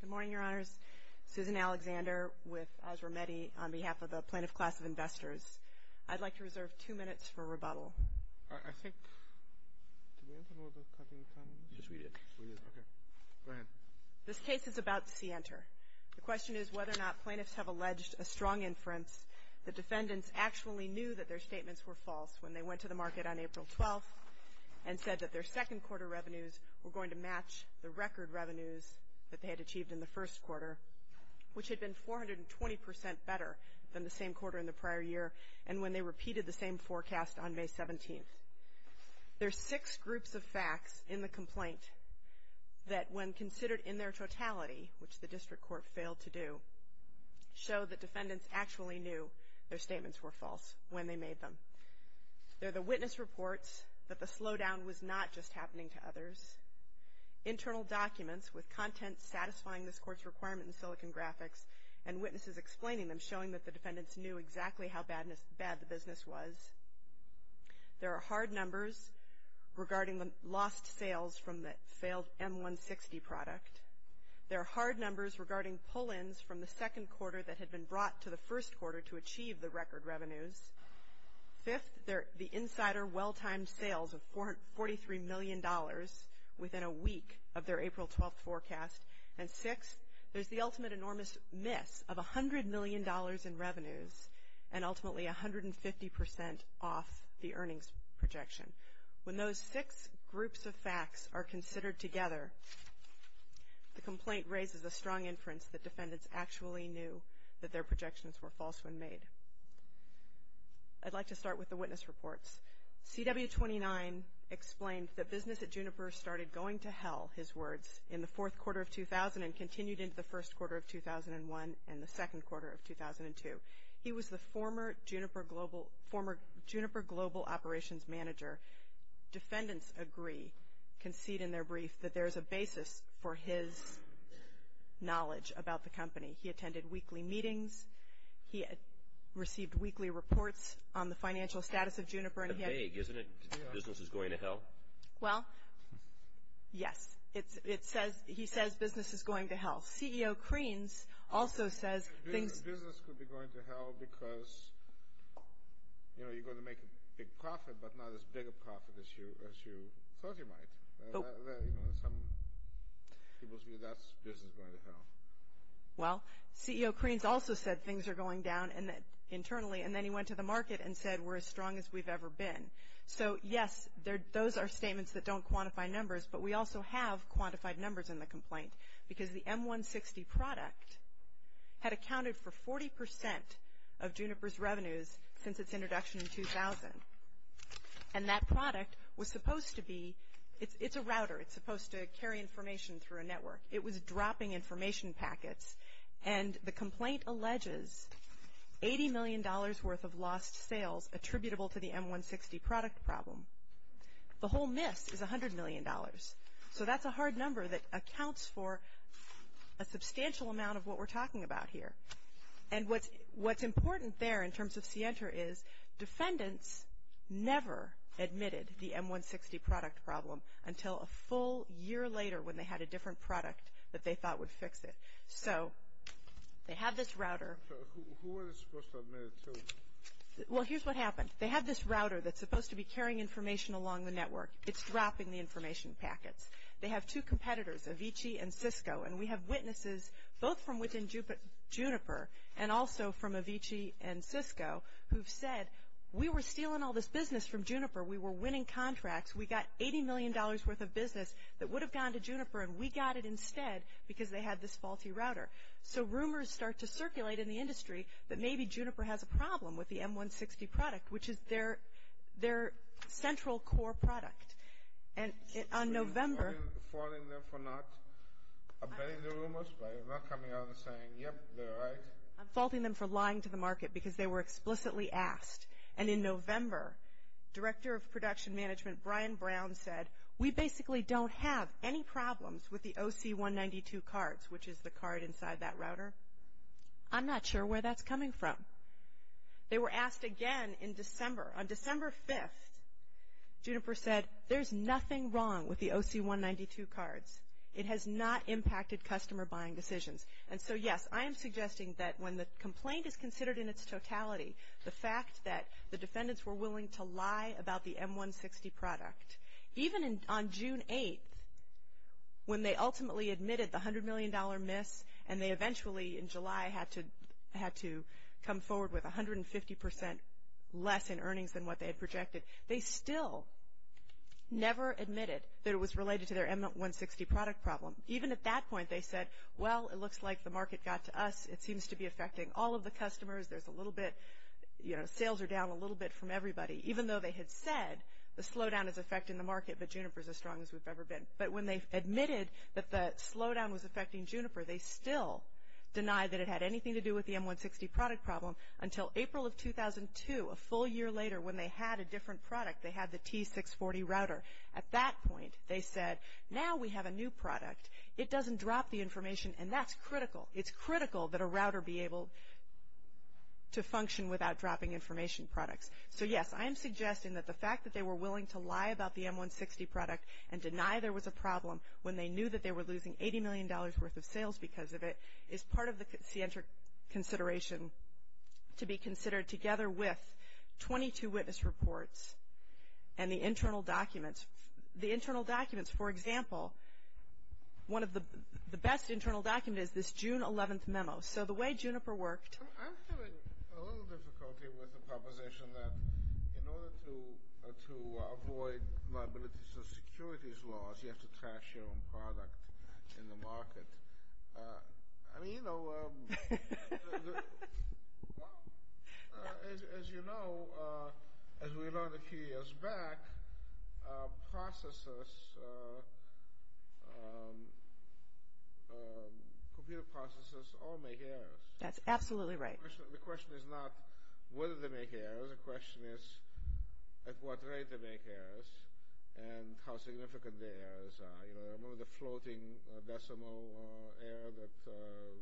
Good morning, Your Honors. Susan Alexander with Osramedi on behalf of the Plaintiff Class of Investors. I'd like to reserve two minutes for rebuttal. I think – did we have a moment of cutting time? Yes, we did. We did, okay. Go ahead. This case is about Sienter. The question is whether or not plaintiffs have alleged a strong inference that defendants actually knew that their statements were false when they went to the market on April 12th and said that their second quarter revenues were going to match the record revenues that they had achieved in the first quarter, which had been 420 percent better than the same quarter in the prior year and when they repeated the same forecast on May 17th. There are six groups of facts in the complaint that, when considered in their totality, which the district court failed to do, show that defendants actually knew their statements were false when they made them. There are the witness reports that the slowdown was not just happening to others, internal documents with content satisfying this court's requirement in Silicon Graphics and witnesses explaining them, showing that the defendants knew exactly how bad the business was. There are hard numbers regarding the lost sales from the failed M160 product. There are hard numbers regarding pull-ins from the second quarter that had been brought to the first quarter to achieve the record revenues. Fifth, the insider well-timed sales of $43 million within a week of their April 12th forecast. And sixth, there's the ultimate enormous miss of $100 million in revenues and ultimately 150 percent off the earnings projection. When those six groups of facts are considered together, the complaint raises a strong inference that defendants actually knew that their projections were false when made. I'd like to start with the witness reports. CW29 explained that business at Juniper started going to hell, his words, in the fourth quarter of 2000 and continued into the first quarter of 2001 and the second quarter of 2002. He was the former Juniper Global Operations Manager. Defendants agree, concede in their brief, that there's a basis for his knowledge about the company. He attended weekly meetings. He received weekly reports on the financial status of Juniper. Isn't it business is going to hell? Well, yes. He says business is going to hell. Well, CEO Kreens also says things – Business could be going to hell because, you know, you're going to make a big profit, but not as big a profit as you thought you might. Some people say that's business going to hell. Well, CEO Kreens also said things are going down internally, and then he went to the market and said we're as strong as we've ever been. So, yes, those are statements that don't quantify numbers, but we also have quantified numbers in the complaint because the M160 product had accounted for 40% of Juniper's revenues since its introduction in 2000, and that product was supposed to be – it's a router. It's supposed to carry information through a network. It was dropping information packets, and the complaint alleges $80 million worth of lost sales attributable to the M160 product problem. The whole miss is $100 million. So that's a hard number that accounts for a substantial amount of what we're talking about here. And what's important there in terms of Sienta is defendants never admitted the M160 product problem until a full year later when they had a different product that they thought would fix it. So they have this router. Who are they supposed to admit it to? Well, here's what happened. They have this router that's supposed to be carrying information along the network. It's dropping the information packets. They have two competitors, Avicii and Cisco, and we have witnesses both from within Juniper and also from Avicii and Cisco who've said, we were stealing all this business from Juniper. We were winning contracts. We got $80 million worth of business that would have gone to Juniper, and we got it instead because they had this faulty router. So rumors start to circulate in the industry that maybe Juniper has a problem with the M160 product, which is their central core product. And on November — Are you faulting them for not? Are you betting the rumors by not coming out and saying, yep, they're right? I'm faulting them for lying to the market because they were explicitly asked. And in November, Director of Production Management Brian Brown said, we basically don't have any problems with the OC192 cards, which is the card inside that router. I'm not sure where that's coming from. They were asked again in December. On December 5th, Juniper said, there's nothing wrong with the OC192 cards. It has not impacted customer buying decisions. And so, yes, I am suggesting that when the complaint is considered in its totality, the fact that the defendants were willing to lie about the M160 product, even on June 8th, when they ultimately admitted the $100 million miss, and they eventually in July had to come forward with 150% less in earnings than what they had projected, they still never admitted that it was related to their M160 product problem. Even at that point, they said, well, it looks like the market got to us. It seems to be affecting all of the customers. There's a little bit, you know, sales are down a little bit from everybody. Even though they had said the slowdown is affecting the market, but Juniper is as strong as we've ever been. But when they admitted that the slowdown was affecting Juniper, they still denied that it had anything to do with the M160 product problem until April of 2002, a full year later, when they had a different product. They had the T640 router. At that point, they said, now we have a new product. It doesn't drop the information, and that's critical. It's critical that a router be able to function without dropping information products. So, yes, I am suggesting that the fact that they were willing to lie about the M160 product and deny there was a problem when they knew that they were losing $80 million worth of sales because of it is part of the scientric consideration to be considered together with 22 witness reports and the internal documents. For example, one of the best internal documents is this June 11th memo. So the way Juniper worked. I'm feeling a little difficulty with the proposition that in order to avoid liabilities and securities laws, you have to trash your own product in the market. I mean, you know, as you know, as we learned a few years back, processors, computer processors all make errors. That's absolutely right. The question is not whether they make errors. The question is at what rate they make errors and how significant the errors are. You know, one of the floating decimal error that the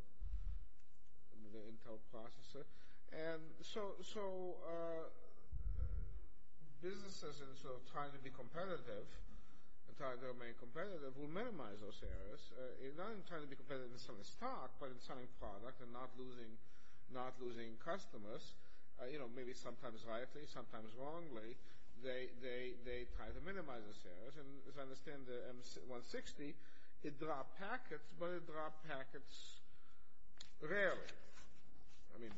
Intel processor. And so businesses, in sort of trying to be competitive, trying to remain competitive, will minimize those errors. Not in trying to be competitive in selling stock, but in selling product and not losing customers, you know, maybe sometimes rightly, sometimes wrongly, they try to minimize those errors. As I understand the M160, it dropped packets, but it dropped packets rarely. I mean,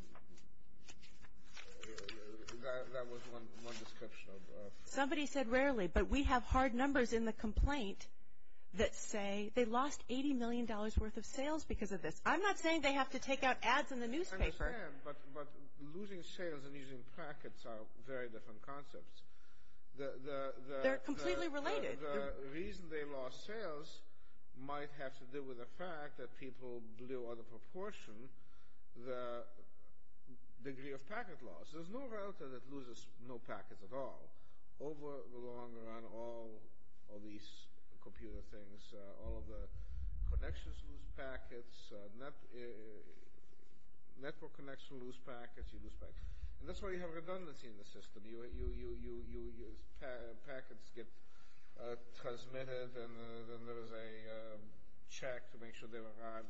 that was one description. Somebody said rarely, but we have hard numbers in the complaint that say they lost $80 million worth of sales because of this. I'm not saying they have to take out ads in the newspaper. I understand, but losing sales and using packets are very different concepts. They're completely related. The reason they lost sales might have to do with the fact that people blew out of proportion the degree of packet loss. There's no router that loses no packets at all. Over the long run, all of these computer things, all of the connections lose packets. Network connections lose packets. That's why you have redundancy in the system. Packets get transmitted, and there is a check to make sure they arrive.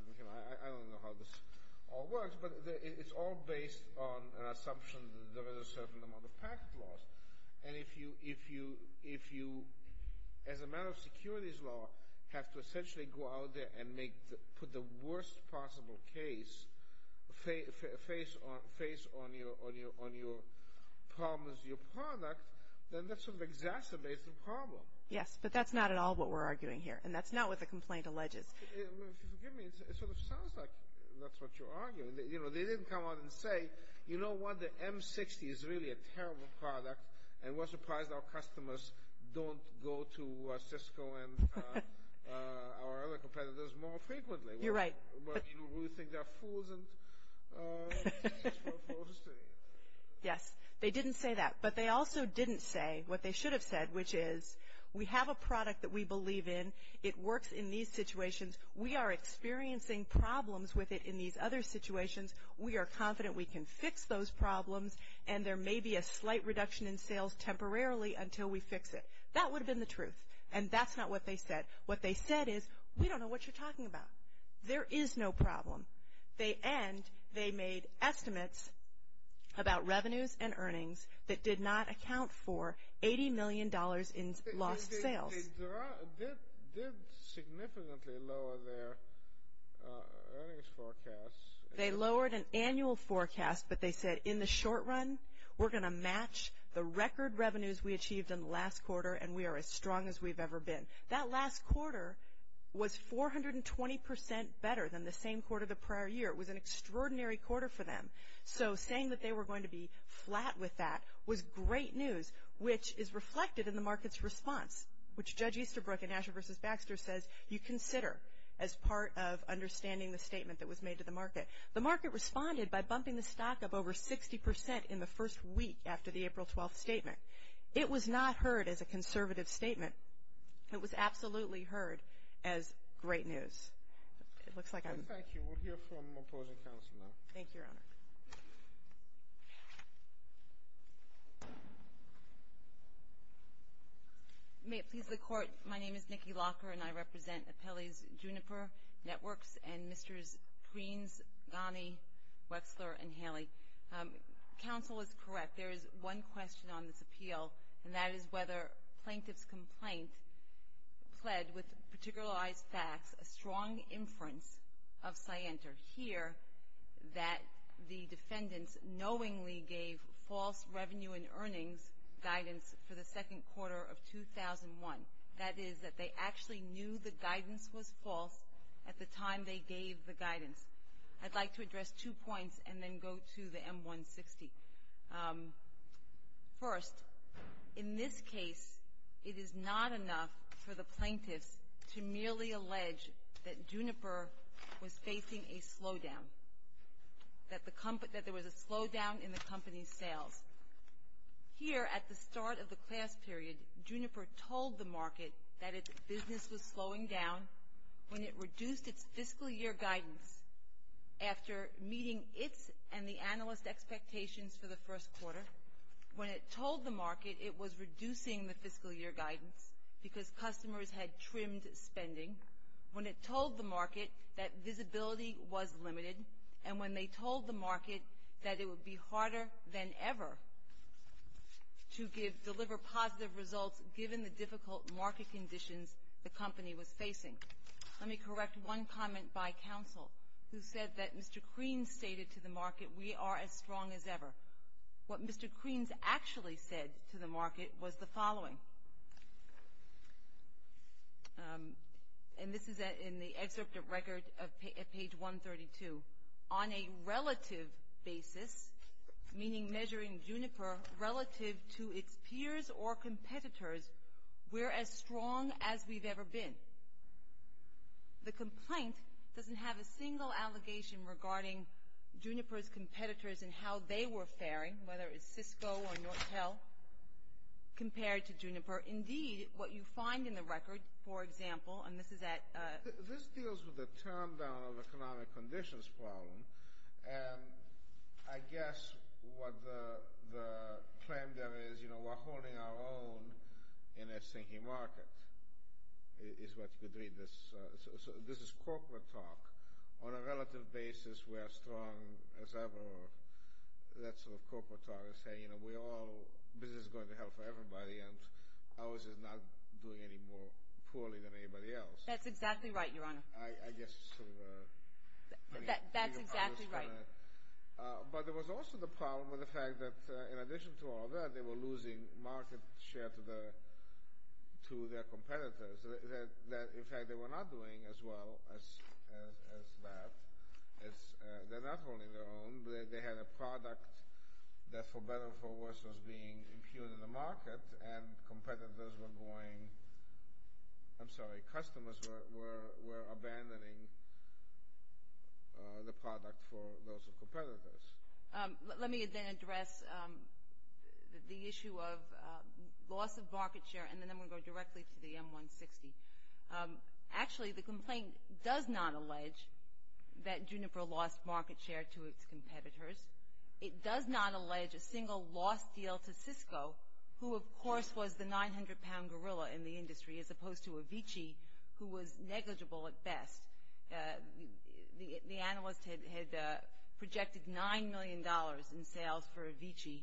I don't know how this all works, but it's all based on an assumption that there is a certain amount of packet loss. And if you, as a matter of securities law, have to essentially go out there and put the worst possible case face on your product, then that sort of exacerbates the problem. Yes, but that's not at all what we're arguing here, and that's not what the complaint alleges. If you'll forgive me, it sort of sounds like that's what you're arguing. They didn't come out and say, you know what, the M60 is really a terrible product, and we're surprised our customers don't go to Cisco and our other competitors more frequently. You're right. We think they're fools. Yes, they didn't say that. But they also didn't say what they should have said, which is we have a product that we believe in. It works in these situations. We are experiencing problems with it in these other situations. We are confident we can fix those problems, and there may be a slight reduction in sales temporarily until we fix it. That would have been the truth, and that's not what they said. What they said is we don't know what you're talking about. There is no problem. And they made estimates about revenues and earnings that did not account for $80 million in lost sales. They did significantly lower their earnings forecast. They lowered an annual forecast, but they said in the short run, we're going to match the record revenues we achieved in the last quarter, and we are as strong as we've ever been. That last quarter was 420% better than the same quarter the prior year. It was an extraordinary quarter for them. So saying that they were going to be flat with that was great news, which is reflected in the market's response, which Judge Easterbrook in Asher v. Baxter says you consider as part of understanding the statement that was made to the market. The market responded by bumping the stock up over 60% in the first week after the April 12th statement. It was not heard as a conservative statement. It was absolutely heard as great news. It looks like I'm. Thank you. We'll hear from opposing counsel now. Thank you, Your Honor. May it please the Court. My name is Nikki Locker, and I represent Appellee's Juniper Networks and Mr.'s Preens, Ghani, Wexler, and Haley. Counsel is correct. There is one question on this appeal, and that is whether plaintiff's complaint pled with particularized facts a strong inference of Scienter. Here that the defendants knowingly gave false revenue and earnings guidance for the second quarter of 2001. That is that they actually knew the guidance was false at the time they gave the guidance. I'd like to address two points and then go to the M160. First, in this case, it is not enough for the plaintiffs to merely allege that Juniper was facing a slowdown, that there was a slowdown in the company's sales. Here at the start of the class period, Juniper told the market that its business was slowing down when it reduced its fiscal year guidance after meeting its and the analyst's expectations for the first quarter. When it told the market it was reducing the fiscal year guidance because customers had trimmed spending. When it told the market that visibility was limited, and when they told the market that it would be harder than ever to deliver positive results given the difficult market conditions the company was facing. Let me correct one comment by counsel, who said that Mr. Kreins stated to the market, we are as strong as ever. What Mr. Kreins actually said to the market was the following, and this is in the excerpt of record at page 132. On a relative basis, meaning measuring Juniper relative to its peers or competitors, we're as strong as we've ever been. The complaint doesn't have a single allegation regarding Juniper's competitors and how they were faring, whether it's Cisco or Nortel, compared to Juniper. Indeed, what you find in the record, for example, and this is at — this deals with the turndown of economic conditions problem, and I guess what the claim there is, you know, we're holding our own in a sinking market, is what you could read. This is corporate talk. On a relative basis, we are as strong as ever. That sort of corporate talk is saying, you know, we're all — business is going to hell for everybody, and ours is not doing any more poorly than anybody else. That's exactly right, Your Honor. I guess it's sort of a — That's exactly right. But there was also the problem with the fact that, in addition to all that, they were losing market share to their competitors that, in fact, they were not doing as well as that. They're not holding their own, but they had a product that, for better or for worse, was being impugned in the market, and competitors were going — I'm sorry, customers were abandoning the product for those competitors. Let me then address the issue of loss of market share, and then I'm going to go directly to the M160. Actually, the complaint does not allege that Juniper lost market share to its competitors. It does not allege a single loss deal to Cisco, who, of course, was the 900-pound gorilla in the industry, as opposed to Avicii, who was negligible at best. The analyst had projected $9 million in sales for Avicii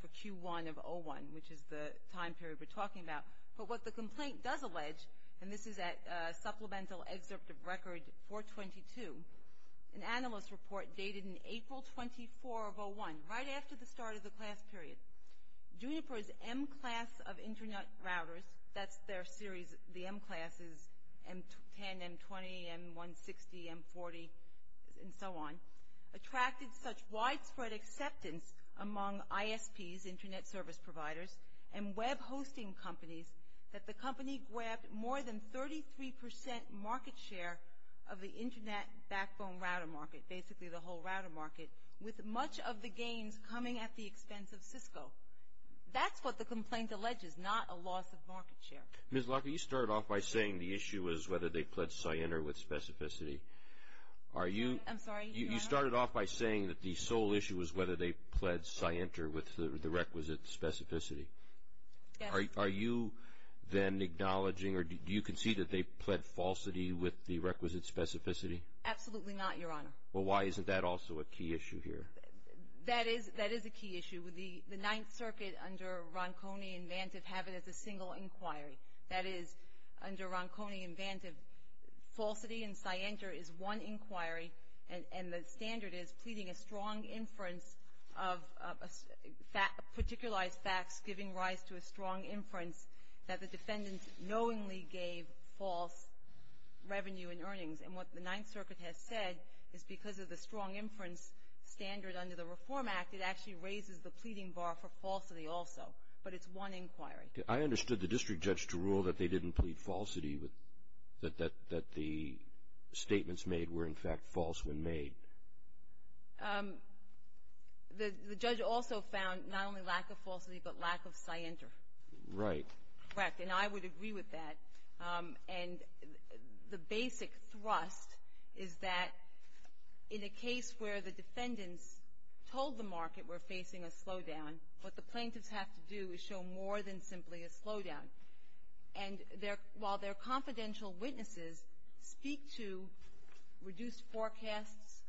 for Q1 of 01, which is the time period we're talking about. But what the complaint does allege, and this is at Supplemental Excerpt of Record 422, an analyst report dated in April 24 of 01, right after the start of the class period, Juniper's M-class of Internet routers — that's their series, the M-classes, M10, M20, M160, M40, and so on — attracted such widespread acceptance among ISPs, Internet Service Providers, and web hosting companies, that the company grabbed more than 33% market share of the Internet backbone router market, basically the whole router market, with much of the gains coming at the expense of Cisco. That's what the complaint alleges, not a loss of market share. Ms. Locke, you started off by saying the issue was whether they pled Cyanter with specificity. Are you — I'm sorry, your honor? You started off by saying that the sole issue was whether they pled Cyanter with the requisite specificity. Yes. Are you then acknowledging, or do you concede that they pled falsity with the requisite specificity? Absolutely not, your honor. Well, why isn't that also a key issue here? That is a key issue. The Ninth Circuit under Ronconi and Vantive have it as a single inquiry. That is, under Ronconi and Vantive, falsity in Cyanter is one inquiry, and the standard is pleading a strong inference of particularized facts giving rise to a strong inference that the defendant knowingly gave false revenue and earnings. And what the Ninth Circuit has said is because of the strong inference standard under the Reform Act, it actually raises the pleading bar for falsity also. But it's one inquiry. I understood the district judge to rule that they didn't plead falsity, that the statements made were, in fact, false when made. The judge also found not only lack of falsity but lack of Cyanter. Right. Correct. And I would agree with that. And the basic thrust is that in a case where the defendants told the market we're facing a slowdown, what the plaintiffs have to do is show more than simply a slowdown. And while their confidential witnesses speak to reduced forecasts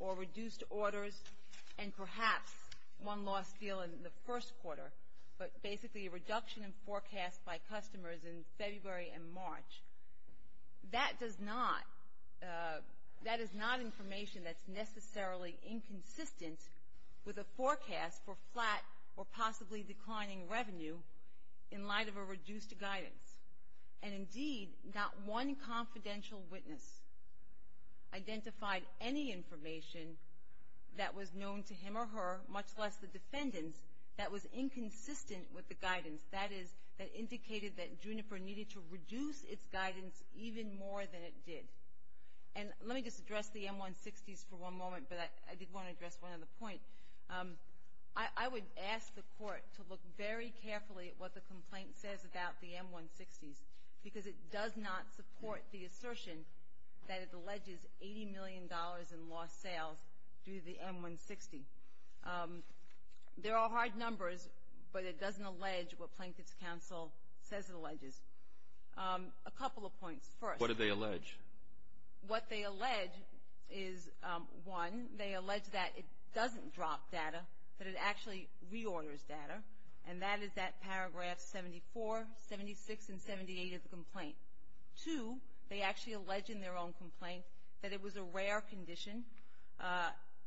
or reduced orders and perhaps one lost deal in the first quarter, but basically a reduction in forecast by customers in February and March, that is not information that's necessarily inconsistent with a forecast for flat or possibly declining revenue in light of a reduced guidance. And indeed, not one confidential witness identified any information that was known to him or her, much less the defendants, that was inconsistent with the guidance. That is, that indicated that Juniper needed to reduce its guidance even more than it did. And let me just address the M160s for one moment, but I did want to address one other point. I would ask the Court to look very carefully at what the complaint says about the M160s, because it does not support the assertion that it alleges $80 million in lost sales due to the M160. They're all hard numbers, but it doesn't allege what Plaintiffs' Counsel says it alleges. A couple of points. First. What do they allege? What they allege is, one, they allege that it doesn't drop data, that it actually reorders data, and that is that Paragraph 74, 76, and 78 of the complaint. Two, they actually allege in their own complaint that it was a rare condition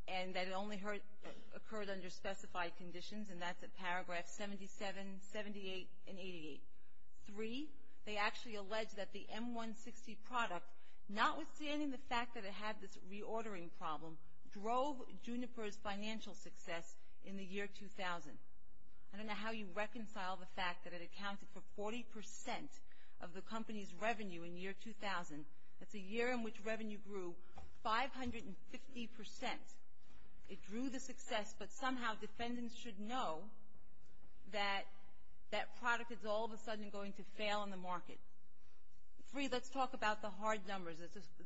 and that it only occurred under specified conditions, and that's at Paragraph 77, 78, and 88. Three, they actually allege that the M160 product, notwithstanding the fact that it had this reordering problem, drove Juniper's financial success in the year 2000. I don't know how you reconcile the fact that it accounted for 40 percent of the company's revenue in year 2000. That's a year in which revenue grew 550 percent. It drew the success, but somehow defendants should know that that product is all of a sudden going to fail in the market. Three, let's talk about the hard numbers,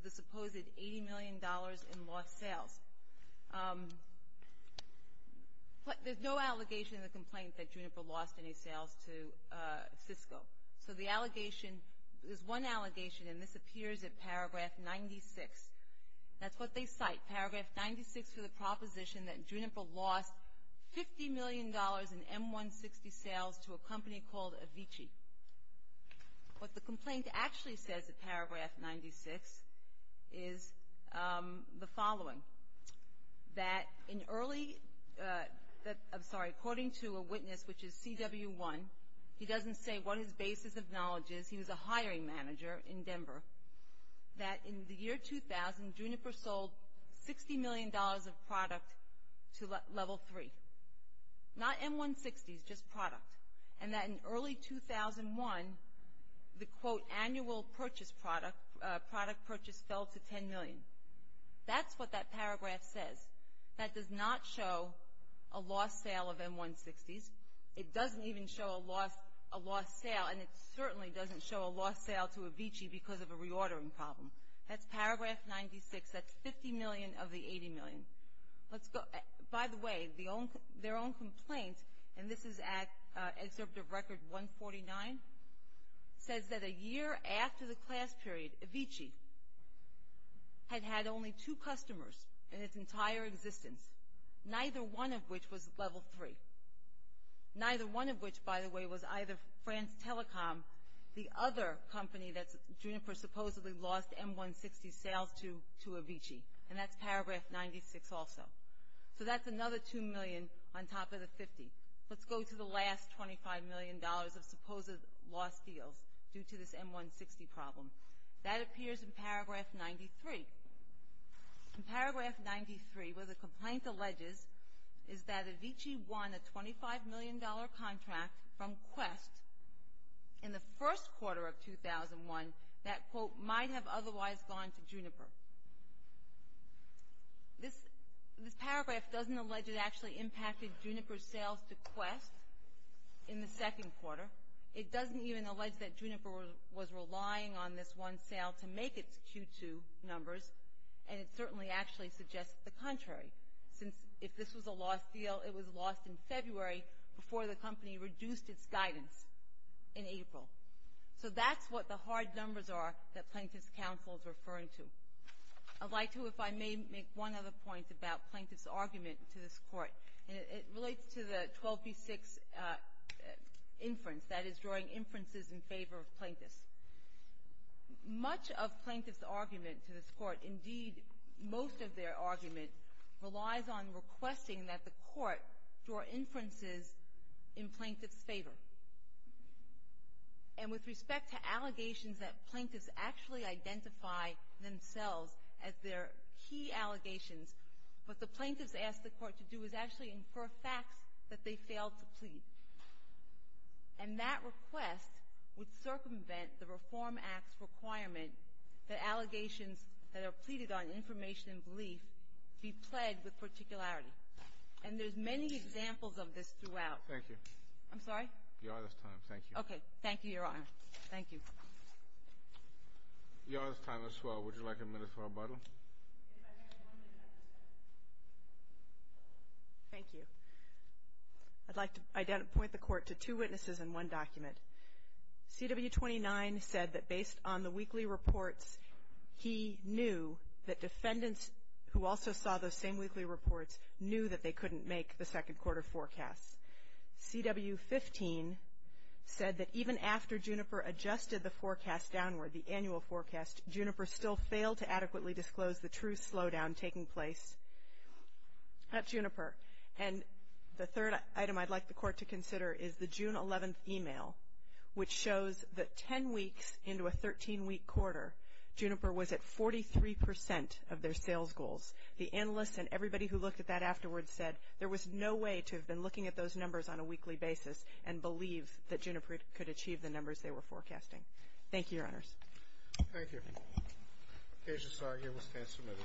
the supposed $80 million in lost sales. There's no allegation in the complaint that Juniper lost any sales to Cisco. So the allegation, there's one allegation, and this appears at Paragraph 96. That's what they cite, Paragraph 96 for the proposition that Juniper lost $50 million in M160 sales to a company called Avici. What the complaint actually says at Paragraph 96 is the following. That in early, I'm sorry, according to a witness, which is CW1, he doesn't say what his basis of knowledge is. He was a hiring manager in Denver. That in the year 2000, Juniper sold $60 million of product to Level 3. Not M160s, just product. And that in early 2001, the, quote, annual purchase fell to $10 million. That's what that paragraph says. That does not show a lost sale of M160s. It doesn't even show a lost sale, and it certainly doesn't show a lost sale to Avici because of a reordering problem. That's Paragraph 96. That's $50 million of the $80 million. By the way, their own complaint, and this is at Excerpt of Record 149, says that a year after the class period, Avici had had only two customers in its entire existence. Neither one of which was Level 3. Neither one of which, by the way, was either France Telecom, the other company that Juniper supposedly lost M160 sales to, to Avici. And that's Paragraph 96 also. So that's another $2 million on top of the $50. Let's go to the last $25 million of supposed lost deals due to this M160 problem. That appears in Paragraph 93. In Paragraph 93, where the complaint alleges is that Avici won a $25 million contract from Quest in the first quarter of 2001 that, quote, might have otherwise gone to Juniper. This paragraph doesn't allege it actually impacted Juniper sales to Quest in the second quarter. It doesn't even allege that Juniper was relying on this one sale to make its Q2 numbers, and it certainly actually suggests the contrary, since if this was a lost deal, it was lost in February before the company reduced its guidance in April. So that's what the hard numbers are that Plaintiff's counsel is referring to. I'd like to, if I may, make one other point about Plaintiff's argument to this Court. It relates to the 12b-6 inference, that is, drawing inferences in favor of Plaintiffs. Much of Plaintiff's argument to this Court, indeed most of their argument, relies on requesting that the Court draw inferences in Plaintiff's favor. And with respect to allegations that Plaintiffs actually identify themselves as their key allegations, what the Plaintiffs ask the Court to do is actually infer facts that they failed to plead. And that request would circumvent the Reform Act's requirement that allegations that are pleaded on information and belief be plagued with particularity. And there's many examples of this throughout. Thank you. I'm sorry? Your Honor's time. Thank you. Okay. Thank you, Your Honor. Thank you. Your Honor's time as well. Would you like a minute for rebuttal? Thank you. I'd like to point the Court to two witnesses and one document. CW-29 said that based on the weekly reports, he knew that defendants who also saw those same weekly reports knew that they couldn't make the second quarter forecasts. CW-15 said that even after Juniper adjusted the forecast downward, the annual forecast, Juniper still failed to adequately disclose the true slowdown taking place at Juniper. And the third item I'd like the Court to consider is the June 11th email, which shows that 10 weeks into a 13-week quarter, Juniper was at 43 percent of their sales goals. The analysts and everybody who looked at that afterwards said there was no way to have been looking at those numbers on a weekly basis and believe that Juniper could achieve the numbers they were forecasting. Thank you, Your Honors. Thank you. Cautious argument stands submitted.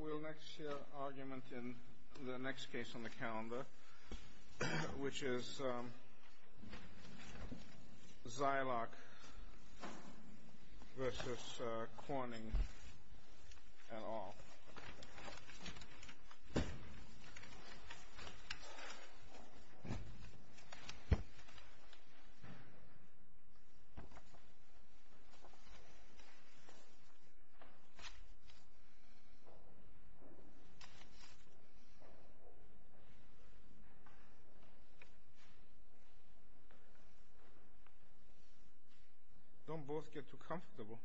We'll next hear argument in the next case on the calendar, which is Zylock v. Corning et al. Thank you. Don't both get too comfortable.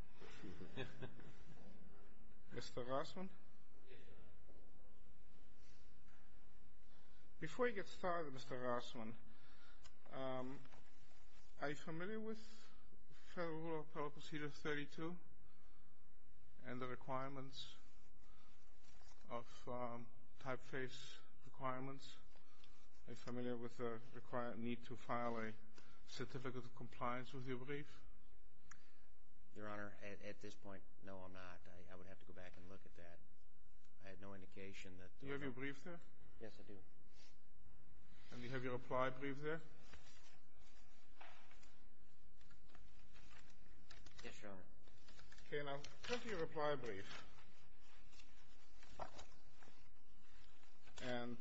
Mr. Rossman? Yes, Your Honor. Before you get started, Mr. Rossman, are you familiar with Federal Rule of Appellate Procedure 32 and the requirements of typeface requirements? Are you familiar with the need to file a certificate of compliance with your brief? Your Honor, at this point, no, I'm not. I would have to go back and look at that. I have no indication that there is. Do you have your brief there? Yes, I do. And do you have your reply brief there? Yes, Your Honor. Okay, now take your reply brief and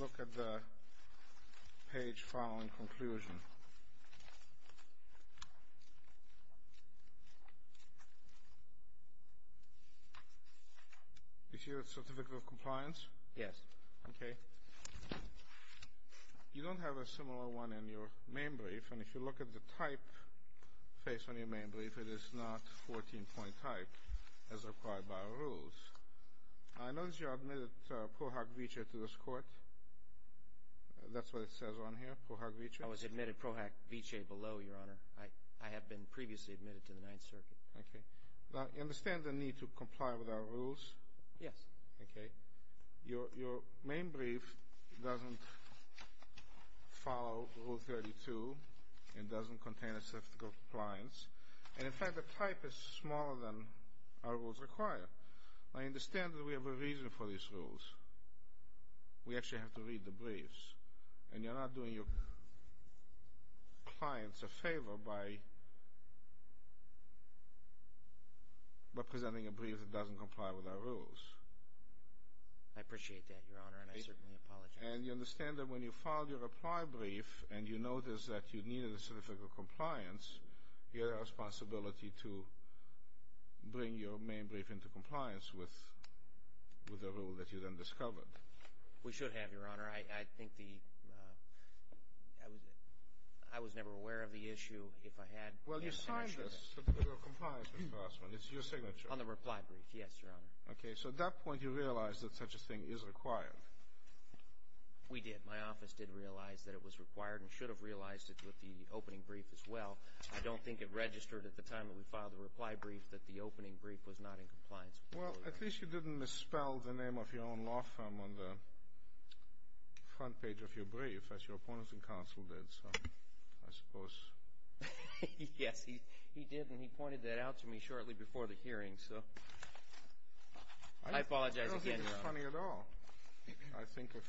look at the page following conclusion. Is your certificate of compliance? Yes. Okay. You don't have a similar one in your main brief, and if you look at the typeface on your main brief, it is not 14-point type as required by our rules. I notice you admitted Pro Hac Vitae to this Court. That's what it says on here, Pro Hac Vitae? I was admitted Pro Hac Vitae below, Your Honor. I have been previously admitted to the Ninth Circuit. Okay. Now, you understand the need to comply with our rules? Yes. Okay. Your main brief doesn't follow Rule 32. It doesn't contain a certificate of compliance. And, in fact, the type is smaller than our rules require. I understand that we have a reason for these rules. We actually have to read the briefs, and you're not doing your clients a favor by presenting a brief that doesn't comply with our rules. I appreciate that, Your Honor, and I certainly apologize. And you understand that when you filed your reply brief and you noticed that you needed a certificate of compliance, you had a responsibility to bring your main brief into compliance with the rule that you then discovered. We should have, Your Honor. I think the ‑‑ I was never aware of the issue. If I had, yes, I'm sure of that. Well, you signed this certificate of compliance, Mr. Grossman. It's your signature. On the reply brief. Yes, Your Honor. Okay, so at that point you realized that such a thing is required. We did. My office did realize that it was required and should have realized it with the opening brief as well. I don't think it registered at the time that we filed the reply brief that the opening brief was not in compliance. Well, at least you didn't misspell the name of your own law firm on the front page of your brief, as your opponents in counsel did, so I suppose. Yes, he did, and he pointed that out to me shortly before the hearing, so I apologize again, Your Honor. I don't think it's funny at all. I think if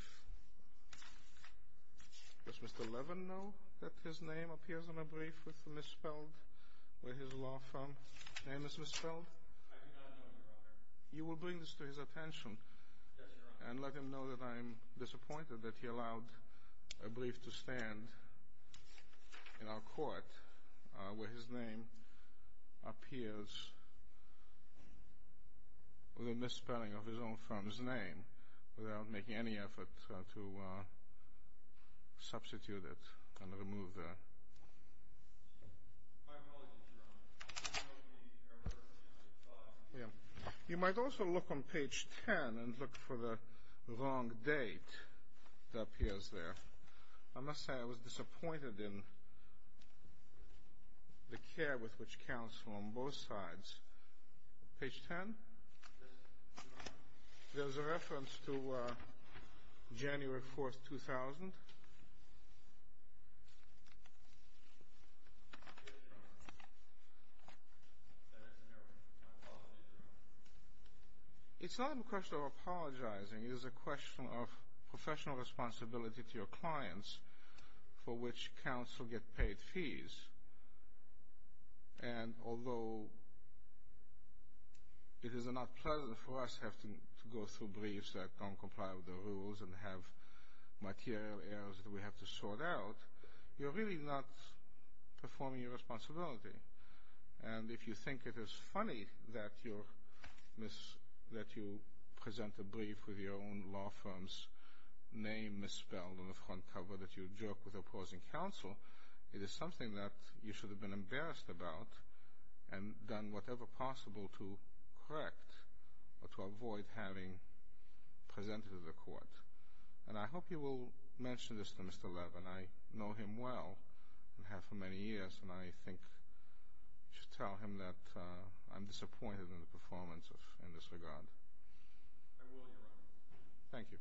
‑‑ does Mr. Levin know that his name appears on a brief with misspelled where his law firm name is misspelled? I do not know, Your Honor. You will bring this to his attention. Yes, Your Honor. And let him know that I'm disappointed that he allowed a brief to stand in our court where his name appears with a misspelling of his own firm's name without making any effort to substitute it and remove it. You might also look on page 10 and look for the wrong date that appears there. I must say I was disappointed in the care with which counsel on both sides. Page 10? There's a reference to January 4th, 2000. That is an error. My apologies, Your Honor. It's not a question of apologizing. It is a question of professional responsibility to your clients for which counsel get paid fees, and although it is not pleasant for us to have to go through briefs that don't comply with the rules and have material errors that we have to sort out, you're really not performing your responsibility. And if you think it is funny that you present a brief with your own law firm's name misspelled on the front cover, that you jerk with opposing counsel, it is something that you should have been embarrassed about and done whatever possible to correct or to avoid having presented to the court. And I hope you will mention this to Mr. Levin. I know him well and have for many years, and I think you should tell him that I'm disappointed in the performance in this regard. I will, Your Honor. Thank you.